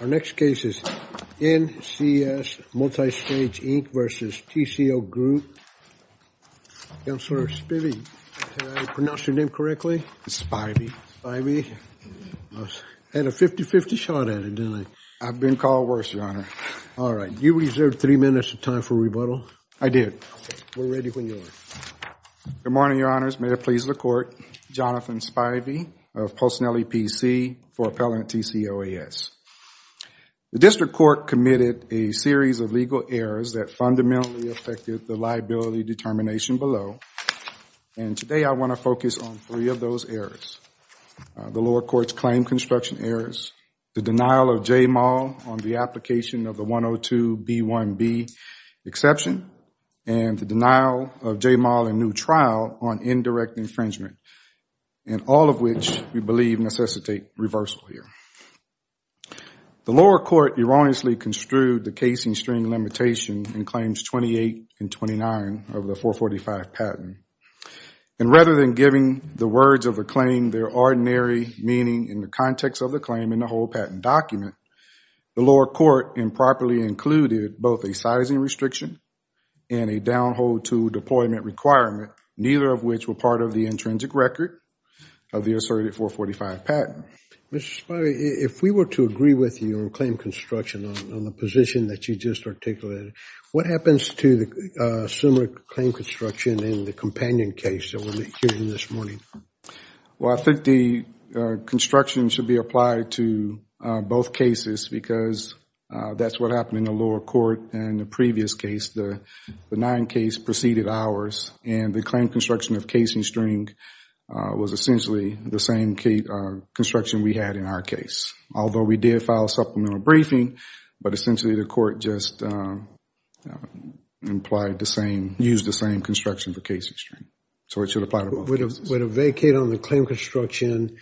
Our next case is NCS Multistage Inc. v. TCO GROUP. Counselor Spivey, did I pronounce your name correctly? Spivey. Spivey. Had a 50-50 shot at it, didn't I? I've been called worse, Your Honor. All right, you reserved three minutes of time for rebuttal. I did. We're ready when you are. Good morning, Your Honors. May it please the Court. Jonathan Spivey of Postinelli PC for Appellant TCOAS. The District Court committed a series of legal errors that fundamentally affected the liability determination below, and today I want to focus on three of those errors. The lower court's claim construction errors, the denial of JMAL on the application of the 102B1B exception, and the denial of JMAL in new trial on indirect infringement, and all of which we believe necessitate reversal here. The lower court erroneously construed the casing string limitation in claims 28 and 29 of the 445 patent, and rather than giving the words of a claim their ordinary meaning in the context of the claim in the whole patent document, the lower court improperly included both a sizing restriction and a down hold to deployment requirement, neither of which were part of the intrinsic record of the asserted 445 patent. Mr. Spivey, if we were to agree with you on claim construction on the position that you just articulated, what happens to the similar claim construction in the companion case that we're hearing this morning? Well, I think the construction should be applied to both cases because that's what happened in the lower court in the previous case. The nine case preceded ours, and the claim construction of casing string was essentially the same construction we had in our case. Although we did file a supplemental briefing, but essentially the court just used the same construction for casing string. So it should apply to both cases. Would a vacate on the claim construction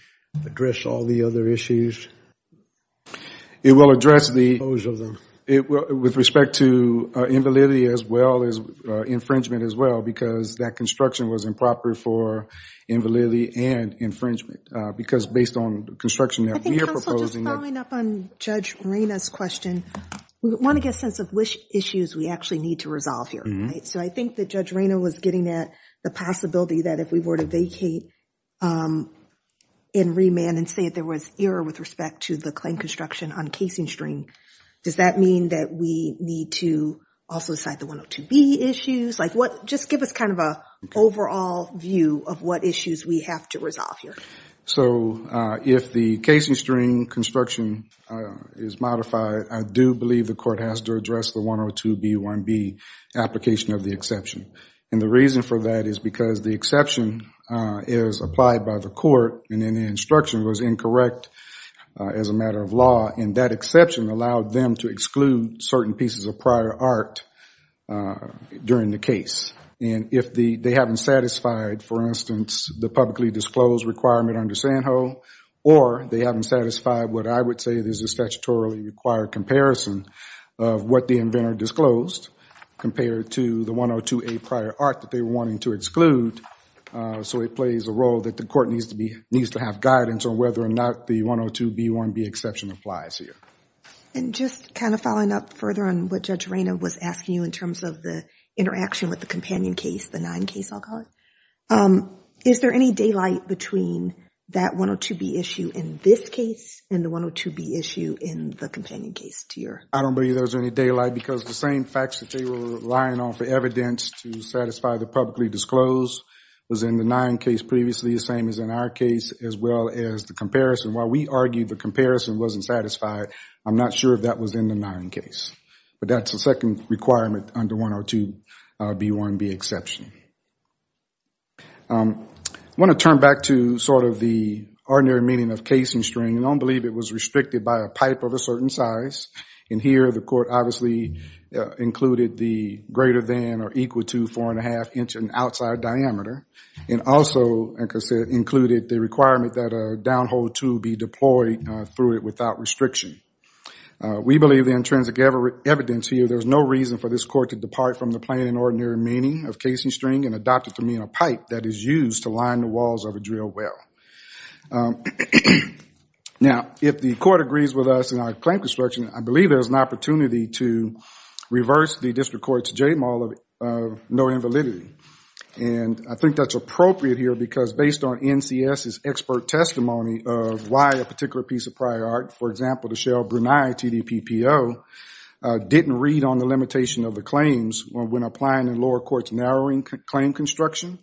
address all the other issues? It will address with respect to invalidity as well as infringement as well because that construction was improper for invalidity and infringement because based on the construction that we are proposing. Just following up on Judge Reyna's question, we want to get a sense of which issues we actually need to resolve here. So I think that Judge Reyna was getting at the possibility that if we were to vacate in remand and say that there was error with respect to the claim construction on casing string, does that mean that we need to also cite the 102B issues? Just give us kind of an overall view of what issues we have to resolve here. So if the casing string construction is modified, I do believe the court has to address the 102B1B application of the exception. And the reason for that is because the exception is applied by the court and then the instruction was incorrect as a matter of law, and that exception allowed them to exclude certain pieces of prior art during the case. And if they haven't satisfied, for instance, the publicly disclosed requirement under Sandhill or they haven't satisfied what I would say is a statutorily required comparison of what the inventor disclosed compared to the 102A prior art that they were wanting to exclude, so it plays a role that the court needs to have guidance on whether or not the 102B1B exception applies here. And just kind of following up further on what Judge Reyna was asking you in terms of the interaction with the companion case, the nine case, I'll call it, is there any daylight between that 102B issue in this case and the 102B issue in the companion case to your… I don't believe there was any daylight because the same facts that they were relying on for evidence to satisfy the publicly disclosed was in the nine case previously, the same as in our case, as well as the comparison. While we argue the comparison wasn't satisfied, I'm not sure if that was in the nine case. But that's the second requirement under 102B1B exception. I want to turn back to sort of the ordinary meaning of case and string. I don't believe it was restricted by a pipe of a certain size. And here the court obviously included the greater than or equal to four and a half inch in outside diameter and also included the requirement that a downhole tool be deployed through it without restriction. We believe the intrinsic evidence here, there's no reason for this court to depart from the plain and ordinary meaning of case and string and adopt it to mean a pipe that is used to line the walls of a drill well. Now, if the court agrees with us in our claim construction, I believe there's an opportunity to reverse the district court's JMAL of no invalidity. And I think that's appropriate here because based on NCS's expert testimony of why a particular piece of prior art, for example, the Shell Brunei TDPPO, didn't read on the limitation of the claims when applying the lower court's narrowing claim construction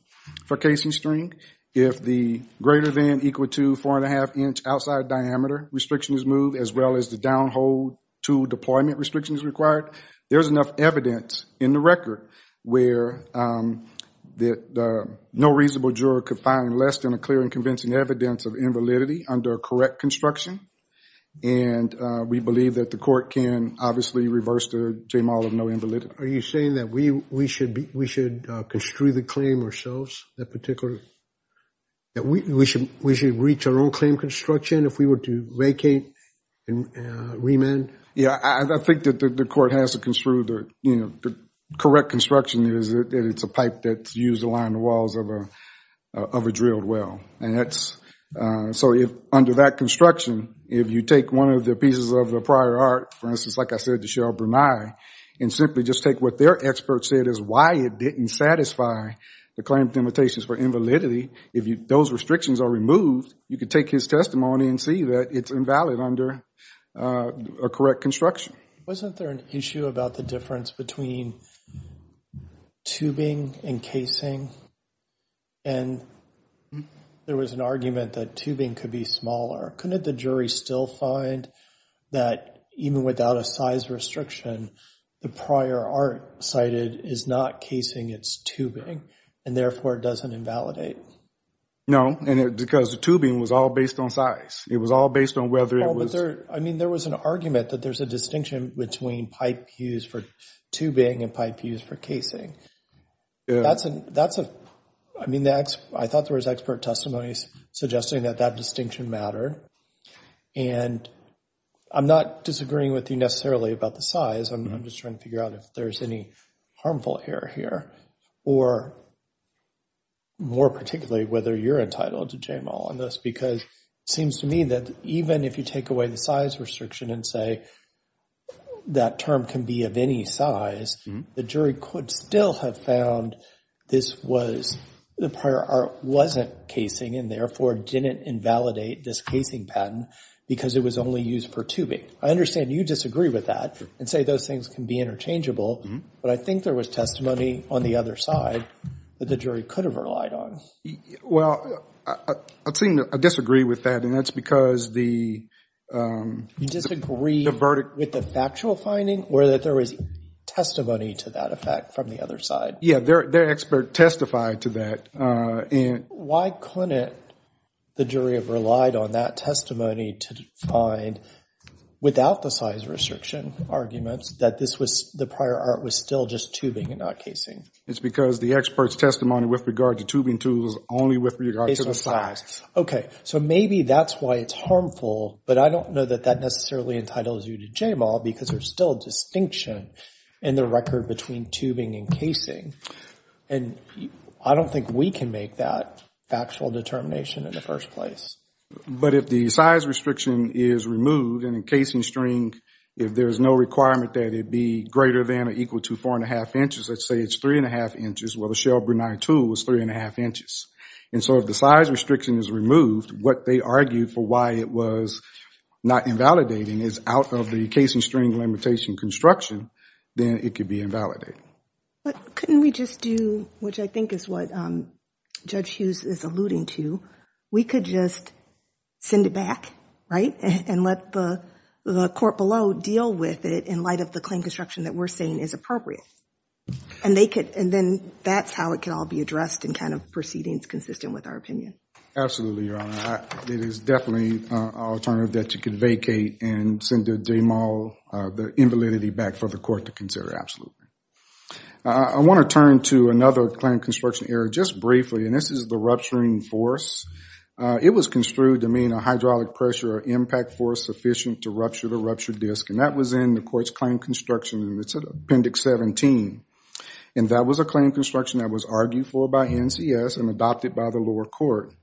for case and string. If the greater than equal to four and a half inch outside diameter restriction is moved, as well as the downhole tool deployment restriction is required, there's enough evidence in the record where no reasonable juror could find less than a clear and convincing evidence of invalidity under correct construction. And we believe that the court can obviously reverse the JMAL of no invalidity. Are you saying that we should construe the claim ourselves, that we should reach our claim construction if we were to vacate and remand? Yeah, I think that the court has to construe the correct construction is that it's a pipe that's used to line the walls of a drilled well. So under that construction, if you take one of the pieces of the prior art, for instance, like I said, the Shell Brunei, and simply just take what their experts said is why it didn't satisfy the claim limitations for invalidity, if those restrictions are removed, you could take his testimony and see that it's invalid under a correct construction. Wasn't there an issue about the difference between tubing and casing? And there was an argument that tubing could be smaller. Couldn't the jury still find that even without a size restriction, the prior art cited is not casing, it's tubing, and therefore it doesn't invalidate? No, because the tubing was all based on size. It was all based on whether it was... I mean, there was an argument that there's a distinction between pipe used for tubing and pipe used for casing. I thought there was expert testimonies suggesting that that distinction mattered. And I'm not disagreeing with you necessarily about the size. I'm just trying to figure out if there's any harmful error here, or more particularly, whether you're entitled to jail on this. Because it seems to me that even if you take away the size restriction and say that term can be of any size, the jury could still have found this was... The prior art wasn't casing and therefore didn't invalidate this casing patent because it was only used for tubing. I understand you disagree with that and say those things can be interchangeable. But I think there was testimony on the other side that the jury could have relied on. Well, I disagree with that. And that's because the... You disagree with the factual finding or that there was testimony to that effect from the other side? Yeah, their expert testified to that. Why couldn't the jury have relied on that testimony to find, without the size restriction arguments, that the prior art was still just tubing and not casing? It's because the expert's testimony with regard to tubing tools is only with regard to the size. Okay. So maybe that's why it's harmful. But I don't know that that necessarily entitles you to JMAW because there's still a distinction in the record between tubing and casing. And I don't think we can make that factual determination in the first place. But if the size restriction is removed and in casing string, if there's no requirement that it be greater than or equal to four and a half inches, let's say it's three and a half inches, well, the Shell Brunei tool was three and a half inches. And so if the size restriction is removed, what they argued for why it was not invalidating is out of the casing string limitation construction, then it could be invalidated. But couldn't we just do, which I think is what Judge Hughes is alluding to, we could just send it back, right? And let the court below deal with it in light of the claim construction that we're saying is appropriate. And then that's how it can all be addressed and kind of proceedings consistent with our opinion. Absolutely, Your Honor. It is definitely an alternative that you can vacate and send the JMAW, the invalidity back for the court to consider. Absolutely. I want to turn to another claim construction error just briefly, and this is the rupturing force. It was construed to mean a hydraulic pressure or impact force sufficient to rupture the ruptured disc. And that was in the court's claim construction. And it's Appendix 17. And that was a claim construction that was argued for by NCS and adopted by the lower court.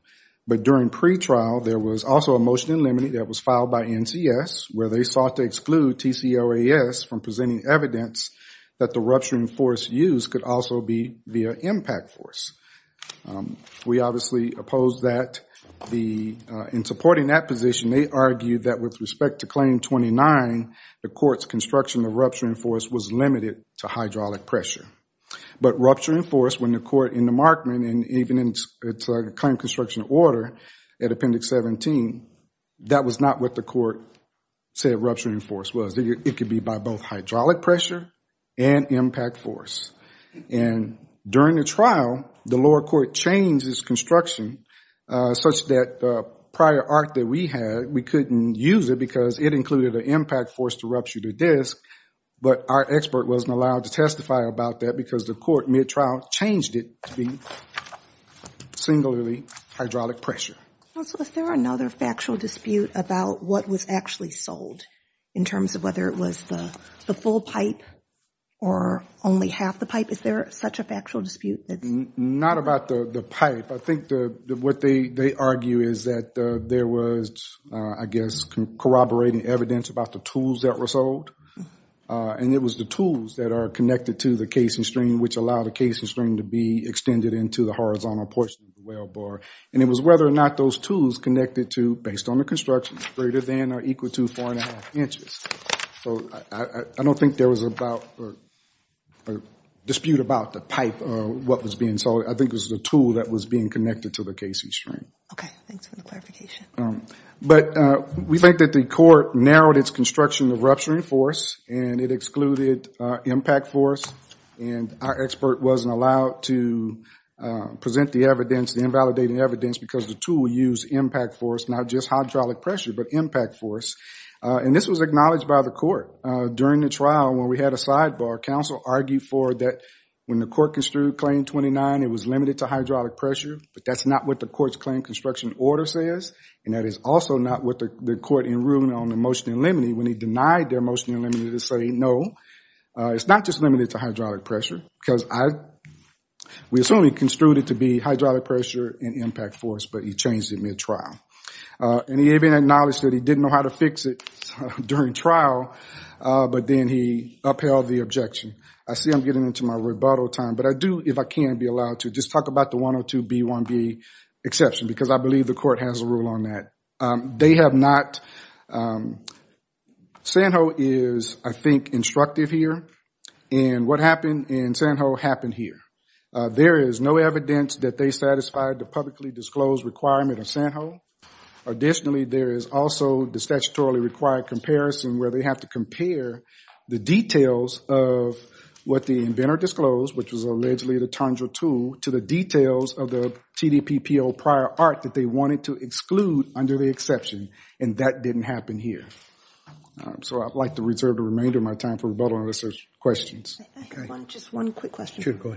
But during pretrial, there was also a motion in limine that was filed by NCS where they sought to exclude TCOAS from presenting evidence that the rupturing force used could also be the impact force. We obviously oppose that. In supporting that position, they argued that with respect to Claim 29, the court's construction of rupturing force was limited to hydraulic pressure. But rupturing force, when the court in the Markman and even in its claim construction order at Appendix 17, that was not what the court said rupturing force was. It could be by both hydraulic pressure and impact force. And during the trial, the lower court changed its construction such that the prior art that we had, we couldn't use it because it included an impact force to rupture the disc. But our expert wasn't allowed to testify about that because the court mid-trial changed it to be singularly hydraulic pressure. Also, is there another factual dispute about what was actually sold in terms of whether it was the full pipe or only half the pipe? Is there such a factual dispute? Not about the pipe. I think what they argue is that there was, I guess, corroborating evidence about the tools that were sold. And it was the tools that are connected to the casing string which allowed the casing string to be extended into the horizontal portion of the well bar. And it was whether or not those tools connected to, based on the construction, greater than or equal to four and a half inches. So I don't think there was a dispute about the pipe or what was being sold. I think it was the tool that was being connected to the casing string. Okay, thanks for the clarification. But we think that the court narrowed its construction of rupturing force and it excluded impact force. And our expert wasn't allowed to present the evidence, the invalidated evidence, because the tool used impact force, not just hydraulic pressure, but impact force. And this was acknowledged by the court. During the trial, when we had a sidebar, counsel argued for that when the court construed claim 29, it was limited to hydraulic pressure. But that's not what the court's claim construction order says. And that is also not what the court in ruling on the motion in limine when he denied their motion in limine to say, no, it's not just limited to hydraulic pressure. Because we assume he construed it to be hydraulic pressure and impact force, but he changed it mid-trial. And he even acknowledged that he didn't know how to fix it during trial, but then he upheld the objection. I see I'm getting into my rebuttal time, but I do, if I can be allowed to, just talk about the 102B1B exception, because I believe the court has a rule on that. They have not. Sanho is, I think, instructive here. And what happened in Sanho happened here. There is no evidence that they satisfied the publicly disclosed requirement of Sanho. Additionally, there is also the statutorily required comparison where they have to compare the details of what the inventor disclosed, which was allegedly the tangible tool, to the details of the TDPPO prior art that they wanted to exclude under the exception. And that didn't happen here. So I'd like to reserve the remainder of my time for rebuttal unless there's questions. Just one quick question. Sure, go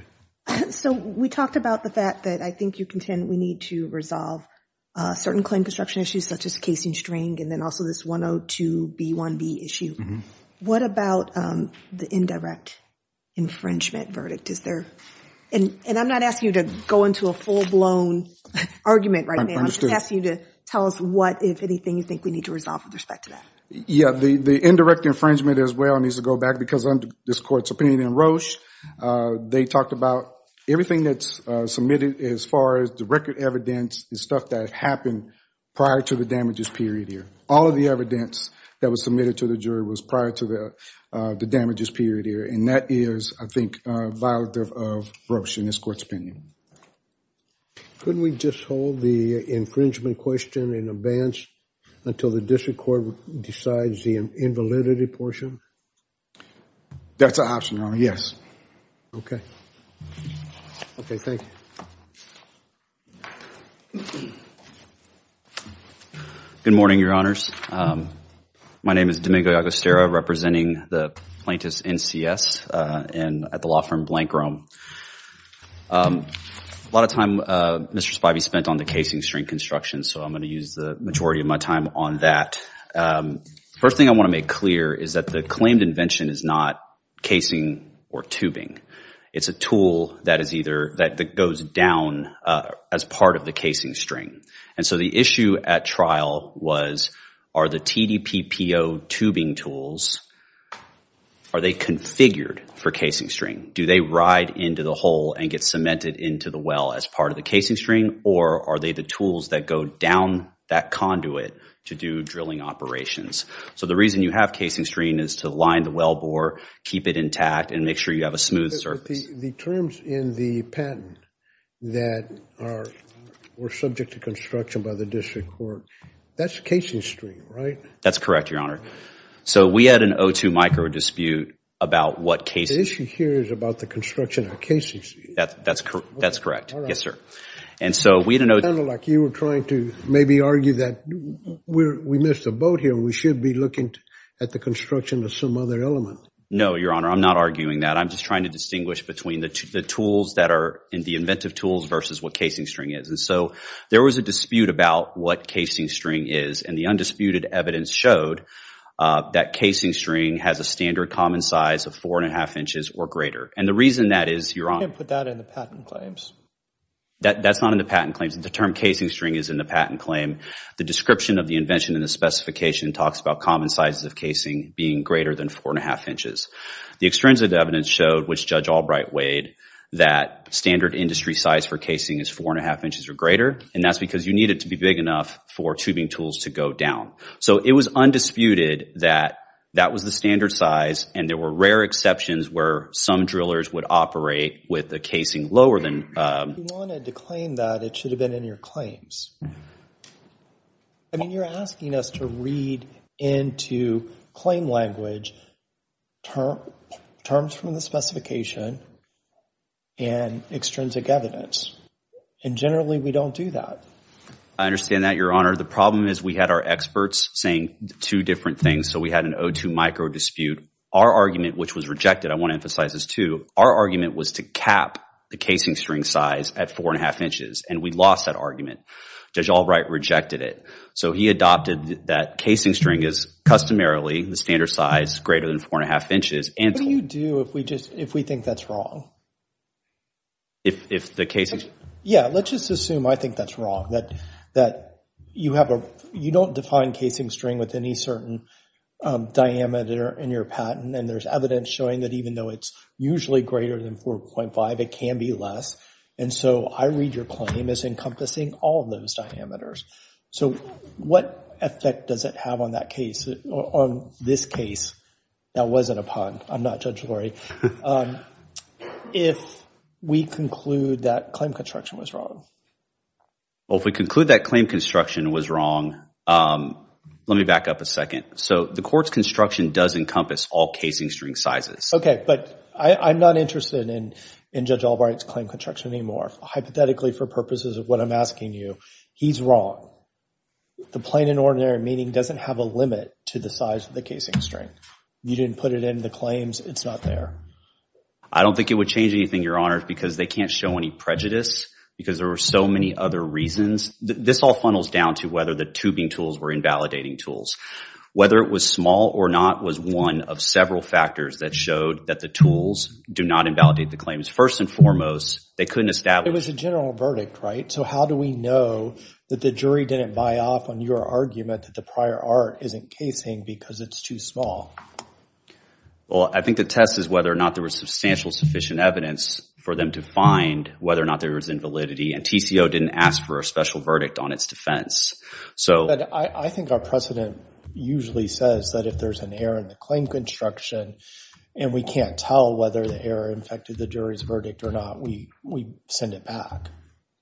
ahead. So we talked about the fact that I think you contend we need to resolve certain claim construction issues such as casing string, and then also this 102B1B issue. What about the indirect infringement verdict? And I'm not asking you to go into a full-blown argument right now. I'm just asking you to tell us what, if anything, you think we need to resolve with respect to that. Yeah, the indirect infringement, as well, needs to go back because under this Court's opinion in Roche, they talked about everything that's submitted as far as the record evidence, the stuff that happened prior to the damages period here. All of the evidence that was submitted to the jury was prior to the damages period here. And that is, I think, violative of Roche in this Court's opinion. Couldn't we just hold the infringement question in advance until the District Court decides the invalidity portion? That's an option, Your Honor. Yes. Okay. Okay, thank you. Good morning, Your Honors. My name is Domingo Agostero, representing the plaintiffs NCS at the law firm Blank Rome. A lot of time, Mr. Spivey, spent on the casing string construction, so I'm going to use the majority of my time on that. First thing I want to make clear is that the claimed invention is not casing or tubing. It's a tool that goes down as part of the casing string. And so the issue at trial was, are the TDPPO tubing tools, are they configured for casing string? Do they ride into the hole and get cemented into the well as part of the casing string? Or are they the tools that go down that conduit to do drilling operations? So the reason you have casing string is to line the wellbore, keep it intact, and make sure you have a smooth surface. The terms in the patent that were subject to construction by the District Court, that's casing string, right? That's correct, Your Honor. So we had an O2 micro dispute about what casing... The issue here is about the construction of casing string. That's correct. Yes, sir. And so we didn't know... It sounded like you were trying to maybe argue that we missed a boat here. We should be looking at the construction of some other element. No, Your Honor. I'm not arguing that. I'm just trying to distinguish between the tools that are in the inventive tools versus what casing string is. And so there was a dispute about what casing string is. And the undisputed evidence showed that casing string has a standard common size of four and a half inches or greater. And the reason that is, Your Honor... You can't put that in the patent claims. That's not in the patent claims. The term casing string is in the patent claim. The description of the invention in the specification talks about common sizes of casing being greater than four and a half inches. The extrinsic evidence showed, which Judge Albright weighed, that standard industry size for casing is four and a half inches or greater. And that's because you need it to be big enough for tubing tools to go down. So it was undisputed that that was the standard size. And there were rare exceptions where some drillers would operate with the casing lower than... If you wanted to claim that, it should have been in your claims. I mean, you're asking us to read into claim language terms from the specification and extrinsic evidence. And generally, we don't do that. I understand that, Your Honor. The problem is we had our experts saying two different things. So we had an O2 micro dispute. Our argument, which was rejected, I want to emphasize this too, our argument was to cap the casing string size at four and a half inches. And we lost that argument. Judge Albright rejected it. So he adopted that casing string is customarily the standard size, greater than four and a half inches. What do you do if we think that's wrong? Yeah, let's just assume I think that's wrong, that you don't define casing string with any certain diameter in your patent. And there's evidence showing that even though it's usually greater than 4.5, it can be less. And so I read your claim as encompassing all of those diameters. So what effect does it have on that case, on this case? That wasn't a pun. I'm not Judge Lurie. If we conclude that claim construction was wrong. Well, if we conclude that claim construction was wrong, let me back up a second. So the court's construction does encompass all casing string sizes. But I'm not interested in Judge Albright's claim construction anymore. Hypothetically, for purposes of what I'm asking you, he's wrong. The plain and ordinary meaning doesn't have a limit to the size of the casing string. You didn't put it in the claims, it's not there. I don't think it would change anything, Your Honor, because they can't show any prejudice because there were so many other reasons. This all funnels down to whether the tubing tools were invalidating tools. Whether it was small or not was one of several factors that showed that the tools do not invalidate the claims. First and foremost, they couldn't establish. It was a general verdict, right? So how do we know that the jury didn't buy off on your argument that the prior art isn't casing because it's too small? Well, I think the test is whether or not there was substantial, sufficient evidence for them to find whether or not there was invalidity. And TCO didn't ask for a special verdict on its defense. But I think our precedent usually says that if there's an error in the claim construction and we can't tell whether the error infected the jury's verdict or not, we send it back.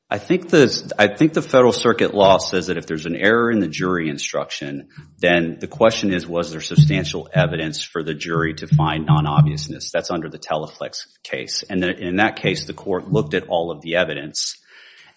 I think the federal circuit law says that if there's an error in the jury instruction, then the question is, was there substantial evidence for the jury to find non-obviousness? That's under the Teleflex case. And in that case, the court looked at all of the evidence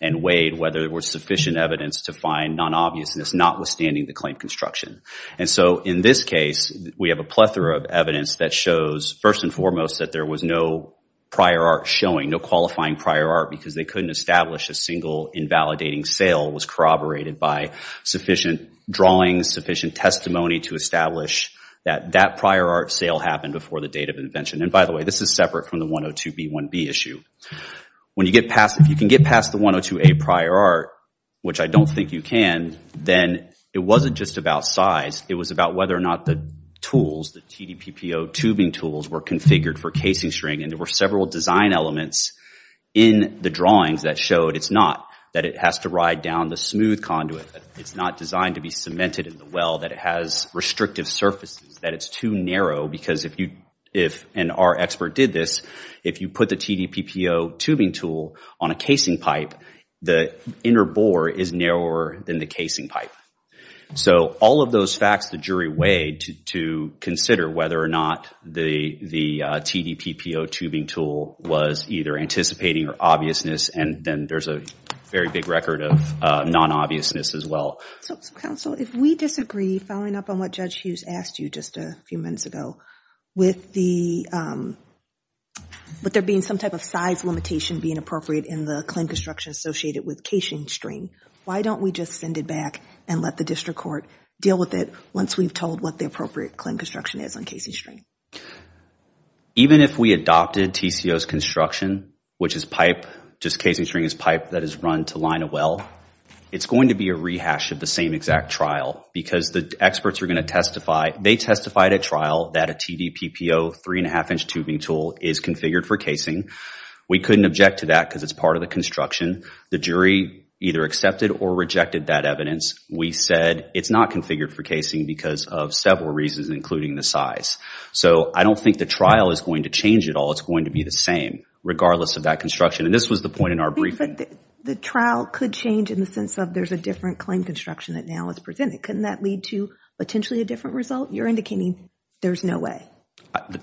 and weighed whether there was sufficient evidence to find non-obviousness, notwithstanding the claim construction. And so in this case, we have a plethora of evidence that shows, first and foremost, that there was no prior art showing, no qualifying prior art because they couldn't establish a single invalidating sale was corroborated by sufficient drawings, sufficient testimony to establish that that prior art sale happened before the date of invention. And by the way, this is separate from the 102B1B issue. When you get past, if you can get past the 102A prior art, which I don't think you can, then it wasn't just about size. It was about whether or not the tools, the TDPPO tubing tools, were configured for casing string. And there were several design elements in the drawings that showed it's not, that it has to ride down the smooth conduit. It's not designed to be cemented in the well, that it has restrictive surfaces, that it's too narrow because if you, and our expert did this, if you put the TDPPO tubing tool on a casing pipe, the inner bore is narrower than the casing pipe. So all of those facts, the jury weighed to consider whether or not the TDPPO tubing tool was either anticipating or obviousness. And then there's a very big record of non-obviousness as well. So counsel, if we disagree, following up on what Judge Hughes asked you just a few minutes ago, with there being some type of size limitation being appropriate in the clean construction associated with casing string, why don't we just send it back and let the district court deal with it once we've told what the appropriate clean construction is on casing string? Even if we adopted TCO's construction, which is pipe, just casing string is pipe that is run to line a well, it's going to be a rehash of the same exact trial because the experts are going to testify, they testified at trial that a TDPPO three and a half inch tubing tool is configured for casing. We couldn't object to that because it's part of the construction. The jury either accepted or rejected that evidence. We said it's not configured for casing because of several reasons, including the size. So I don't think the trial is going to change at all. It's going to be the same regardless of that construction. And this was the point in our briefing. But the trial could change in the sense of there's a different claim construction that now is presented. Couldn't that lead to potentially a different result? You're indicating there's no way.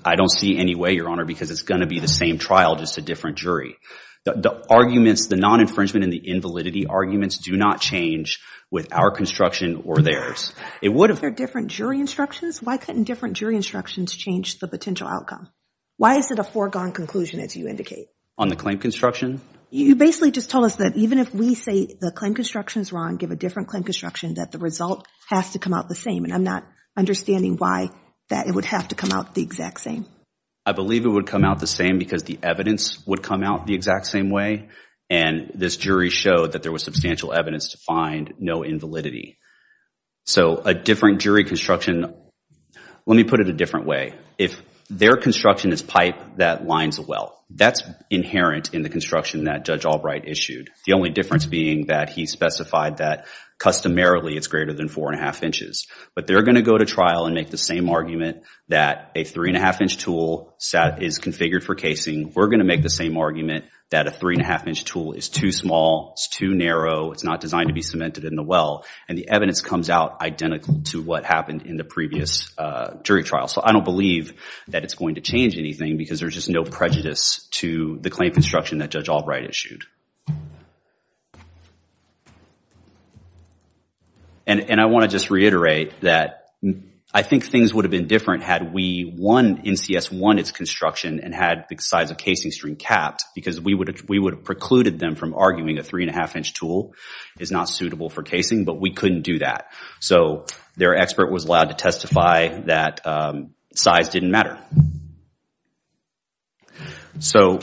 I don't see any way, Your Honor, because it's going to be the same trial, just a different jury. The arguments, the non-infringement and the invalidity arguments do not change with our construction or theirs. It would have been different jury instructions. Why couldn't different jury instructions change the potential outcome? Why is it a foregone conclusion, as you indicate? On the claim construction? You basically just told us that even if we say the claim construction is wrong, give a different claim construction, that the result has to come out the same. And I'm not understanding why that it would have to come out the exact same. I believe it would come out the same because the evidence would come out the exact same way. And this jury showed that there was substantial evidence to find no invalidity. So a different jury construction, let me put it a different way. If their construction is pipe, that lines the well. That's inherent in the construction that Judge Albright issued. The only difference being that he specified that customarily it's greater than 4 1⁄2 inches. But they're going to go to trial and make the same argument that a 3 1⁄2-inch tool is configured for casing. We're going to make the same argument that a 3 1⁄2-inch tool is too small, it's too narrow, it's not designed to be cemented in the well. And the evidence comes out identical to what happened in the previous jury trial. So I don't believe that it's going to change anything because there's just no prejudice to the claim construction that Judge Albright issued. And I want to just reiterate that I think things would have been different had NCS won its construction and had the size of casing stream capped because we would have precluded them from arguing a 3 1⁄2-inch tool is not suitable for casing, but we couldn't do that. So their expert was allowed to testify that size didn't matter. So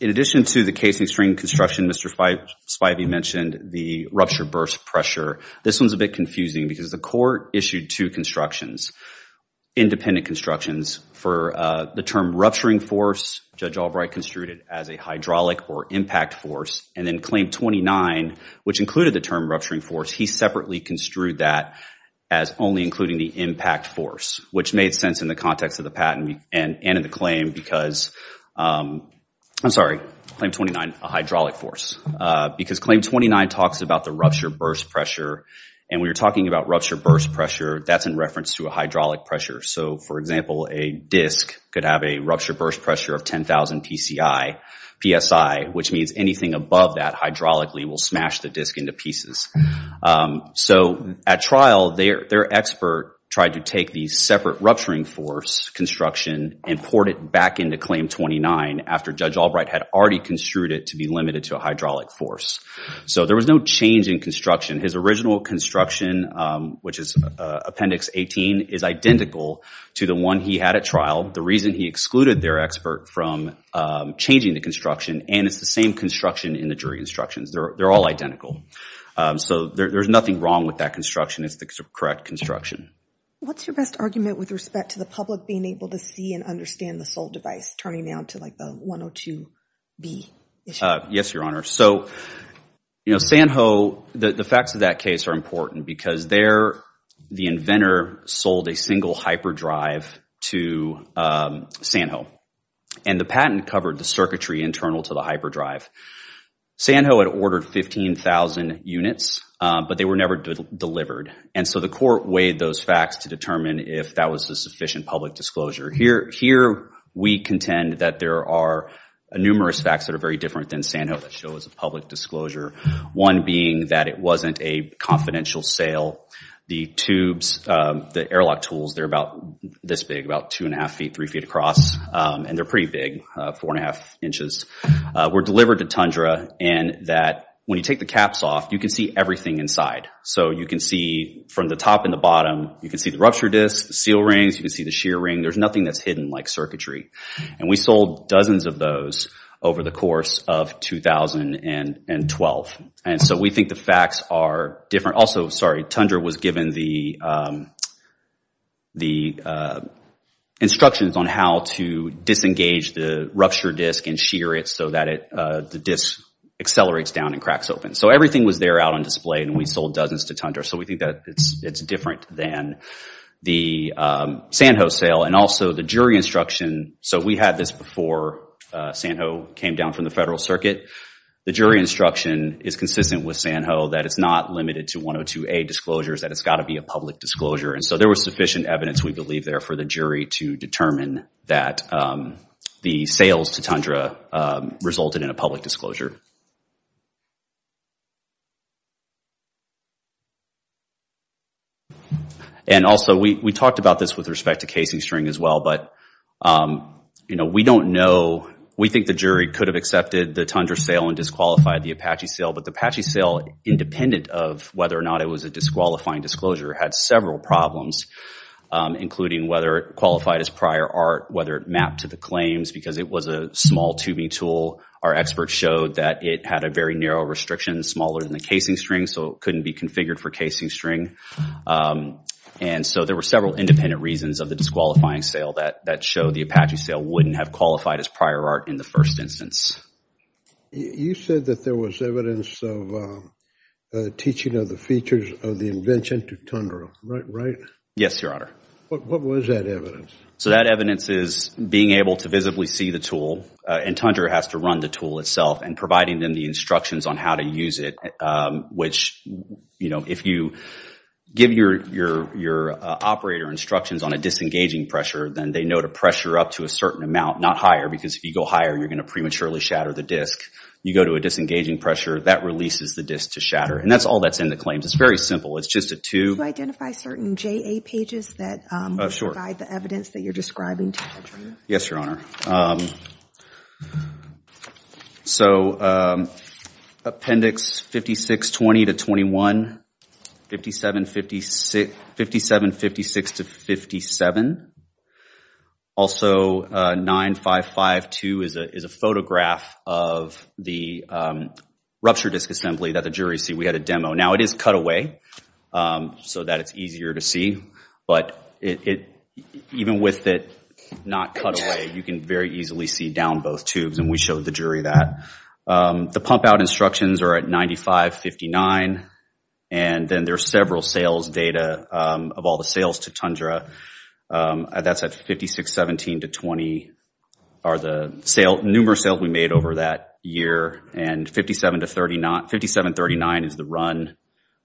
in addition to the casing stream construction, Mr. Spivey mentioned the rupture burst pressure. This one's a bit confusing because the court issued two constructions, independent constructions for the term rupturing force. Judge Albright construed it as a hydraulic or impact force and then Claim 29, which included the term rupturing force, he separately construed that as only a rupturing force. Only including the impact force, which made sense in the context of the patent and in the claim because, I'm sorry, Claim 29, a hydraulic force. Because Claim 29 talks about the rupture burst pressure. And when you're talking about rupture burst pressure, that's in reference to a hydraulic pressure. So for example, a disc could have a rupture burst pressure of 10,000 psi, which means anything above that hydraulically will smash the disc into pieces. So at trial, their expert tried to take the separate rupturing force construction and poured it back into Claim 29 after Judge Albright had already construed it to be limited to a hydraulic force. So there was no change in construction. His original construction, which is Appendix 18, is identical to the one he had at trial. The reason he excluded their expert from changing the construction, and it's the same construction in the jury instructions. They're all identical. So there's nothing wrong with that construction. It's the correct construction. What's your best argument with respect to the public being able to see and understand the sole device, turning down to like the 102B issue? Yes, Your Honor. So Sanho, the facts of that case are important because the inventor sold a single hyperdrive to Sanho. And the patent covered the circuitry internal to the hyperdrive. Sanho had ordered 15,000 units, but they were never delivered. And so the court weighed those facts to determine if that was a sufficient public disclosure. Here, we contend that there are numerous facts that are very different than Sanho that show as a public disclosure. One being that it wasn't a confidential sale. The tubes, the airlock tools, they're about this big, about 2 and 1⁄2 feet, 3 feet across. And they're pretty big, 4 and 1⁄2 inches. Were delivered to Tundra and that when you take the caps off, you can see everything inside. So you can see from the top and the bottom, you can see the rupture disc, the seal rings, you can see the shear ring. There's nothing that's hidden like circuitry. And we sold dozens of those over the course of 2012. And so we think the facts are different. Also, sorry, Tundra was given the instructions on how to disengage the rupture disc and shear it so that the disc accelerates down and cracks open. So everything was there out on display and we sold dozens to Tundra. So we think that it's different than the Sanho sale. And also the jury instruction, so we had this before Sanho came down from the federal circuit. The jury instruction is consistent with Sanho that it's not limited to 102A disclosures, that it's got to be a public disclosure. And so there was sufficient evidence, we believe, there for the jury to determine that the sales to Tundra resulted in a public disclosure. And also, we talked about this with respect to casing string as well, but we don't know, we think the jury could have accepted the Tundra sale and disqualified the Apache sale. But the Apache sale, independent of whether or not it was a disqualifying disclosure, had several problems, including whether it qualified as prior art, whether it mapped to the claims, because it was a small tubing tool. Our experts showed that it had a very narrow restriction, smaller than the casing string, so it couldn't be configured for casing string. And so there were several independent reasons of the disqualifying sale that showed the Apache sale wouldn't have qualified as prior art in the first instance. You said that there was evidence of the teaching of the features of the invention to Tundra, right? Yes, Your Honor. What was that evidence? So that evidence is being able to visibly see the tool, and Tundra has to run the tool itself, and providing them the instructions on how to use it, which if you give your operator instructions on a disengaging pressure, then they know to pressure up to a certain amount, not higher, because if you go higher, you're going to prematurely shatter the disk. You go to a disengaging pressure, that releases the disk to shatter. And that's all that's in the claims. It's very simple. Do you identify certain JA pages that provide the evidence that you're describing to Tundra? Yes, Your Honor. So Appendix 5620 to 21, 5756 to 57. Also 9552 is a photograph of the rupture disk assembly that the jury see. We had a demo. Now, it is cut away so that it's easier to see, but even with it not cut away, you can very easily see down both tubes, and we showed the jury that. The pump-out instructions are at 9559, and then there's several sales data of all the sales to Tundra. That's at 5617 to 20 are the numerous sales we made over that year, and 5739 is the run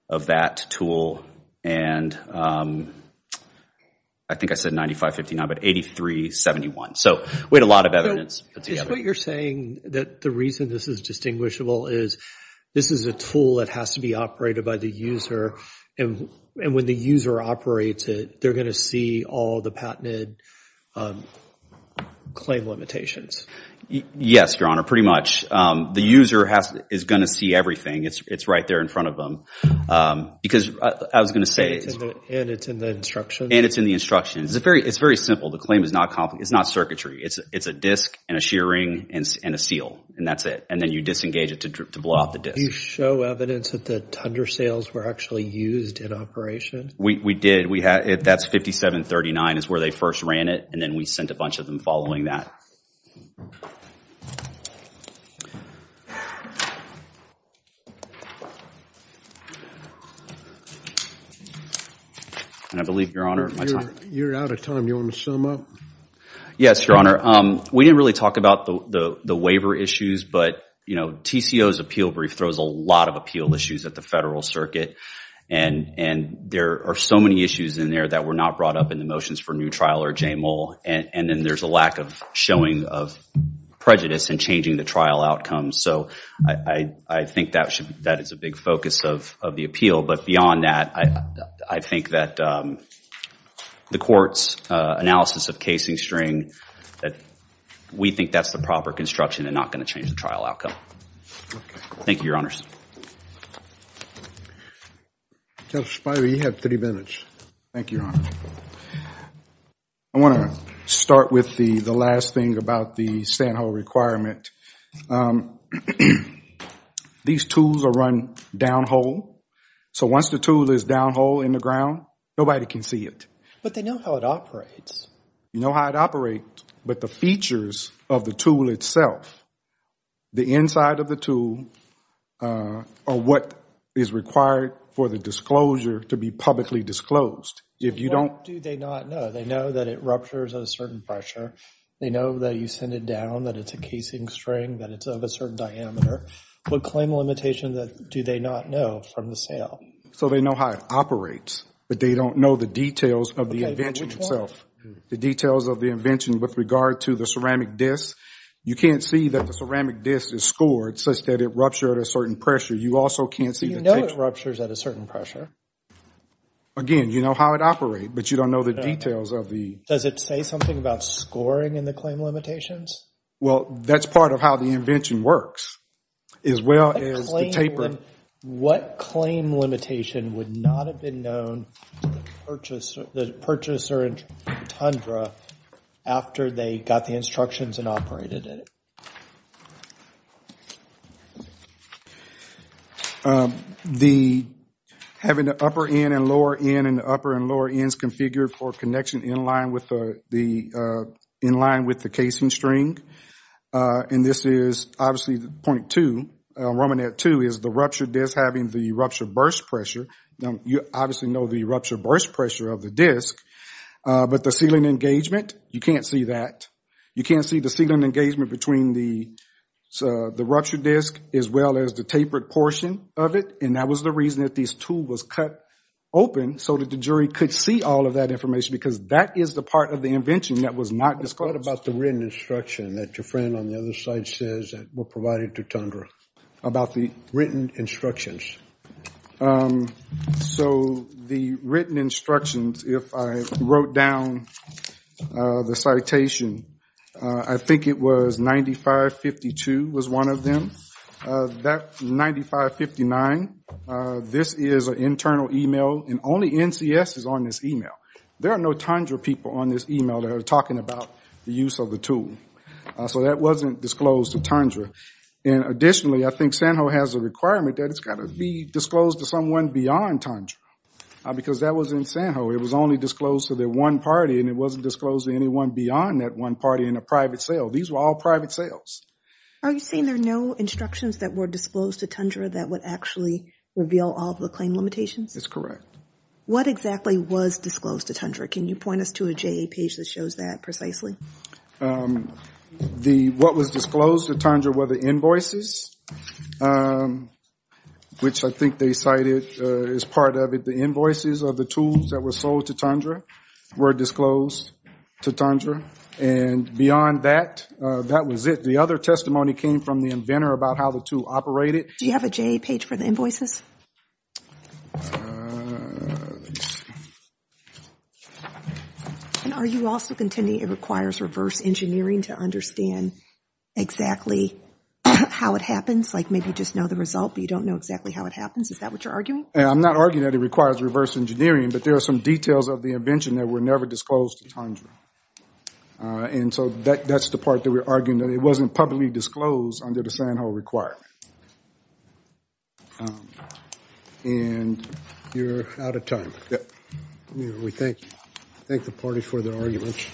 of that tool, and I think I said 9559, but 8371. So we had a lot of evidence put together. Is what you're saying that the reason this is distinguishable is this is a tool that has to be operated by the user, and when the user operates it, they're going to see all the patented claim limitations? Yes, Your Honor. The user is going to see everything. It's right there in front of them, because I was going to say... And it's in the instructions? And it's in the instructions. It's very simple. The claim is not circuitry. It's a disk and a shear ring and a seal, and that's it, and then you disengage it to blow off the disk. Do you show evidence that the Tundra sales were actually used in operation? We did. That's 5739 is where they first ran it, and then we sent a bunch of them following that. And I believe, Your Honor... You're out of time. Do you want to sum up? Yes, Your Honor. We didn't really talk about the waiver issues, but TCO's appeal brief throws a lot of appeal issues at the federal circuit, and there are so many issues in there that were not brought up in the motions for new trial or JMOL, and then there's a lack of showing of prejudice and changing the trial outcome. So I think that is a big focus of the appeal, but beyond that, I think that the court's analysis of casing string, that we think that's the proper construction and not going to change the trial outcome. Thank you, Your Honors. Judge Spiro, you have three minutes. Thank you, Your Honor. I want to start with the last thing about the stand-hole requirement. These tools are run down-hole, so once the tool is down-hole in the ground, nobody can see it. But they know how it operates. You know how it operates, but the features of the tool itself, the inside of the tool, are what is required for the disclosure to be publicly disclosed. If you don't... What do they not know? They know that it ruptures at a certain pressure. They know that you send it down, that it's a casing string, that it's of a certain diameter. What claim limitation do they not know from the sale? So they know how it operates, but they don't know the details of the invention itself. The details of the invention with regard to the ceramic disc. You can't see that the ceramic disc is scored such that it ruptured at a certain pressure. You also can't see... You know it ruptures at a certain pressure. Again, you know how it operates, but you don't know the details of the... Does it say something about scoring in the claim limitations? Well, that's part of how the invention works, as well as the taper. What claim limitation would not have been known to the purchaser in Tundra after they got the instructions and operated it? Having the upper end and lower end and the upper and lower ends configured for connection in line with the casing string. And this is obviously point two. Romanette two is the ruptured disc having the ruptured burst pressure. You obviously know the ruptured burst pressure of the disc, but the sealing engagement, you can't see that. You can't see the sealing engagement between the ruptured disc as well as the tapered portion of it. And that was the reason that this tool was cut open so that the jury could see all of that information because that is the part of the invention that was not disclosed. What about the written instruction that your friend on the other side says that were provided to Tundra? About the written instructions. So the written instructions, if I wrote down the citation, I think it was 9552 was one of them. That's 9559. This is an internal email and only NCS is on this email. There are no Tundra people on this email that are talking about the use of the tool. So that wasn't disclosed to Tundra. And additionally, I think Sanho has a requirement that it's got to be disclosed to someone beyond Tundra because that was in Sanho. It was only disclosed to the one party and it wasn't disclosed to anyone beyond that one party in a private cell. These were all private cells. Are you saying there are no instructions that were disclosed to Tundra that would actually reveal all the claim limitations? That's correct. What exactly was disclosed to Tundra? Can you point us to a JA page that shows that precisely? What was disclosed to Tundra were the invoices, which I think they cited as part of it. The invoices of the tools that were sold to Tundra were disclosed to Tundra. And beyond that, that was it. The other testimony came from the inventor about how the tool operated. Do you have a JA page for the invoices? And are you also contending it requires reverse engineering to understand exactly how it happens, like maybe just know the result, but you don't know exactly how it happens? Is that what you're arguing? I'm not arguing that it requires reverse engineering, but there are some details of the invention that were never disclosed to Tundra. And so that's the part that we're arguing that it wasn't publicly disclosed under the Sanho requirement. And you're out of time. We thank the party for their arguments.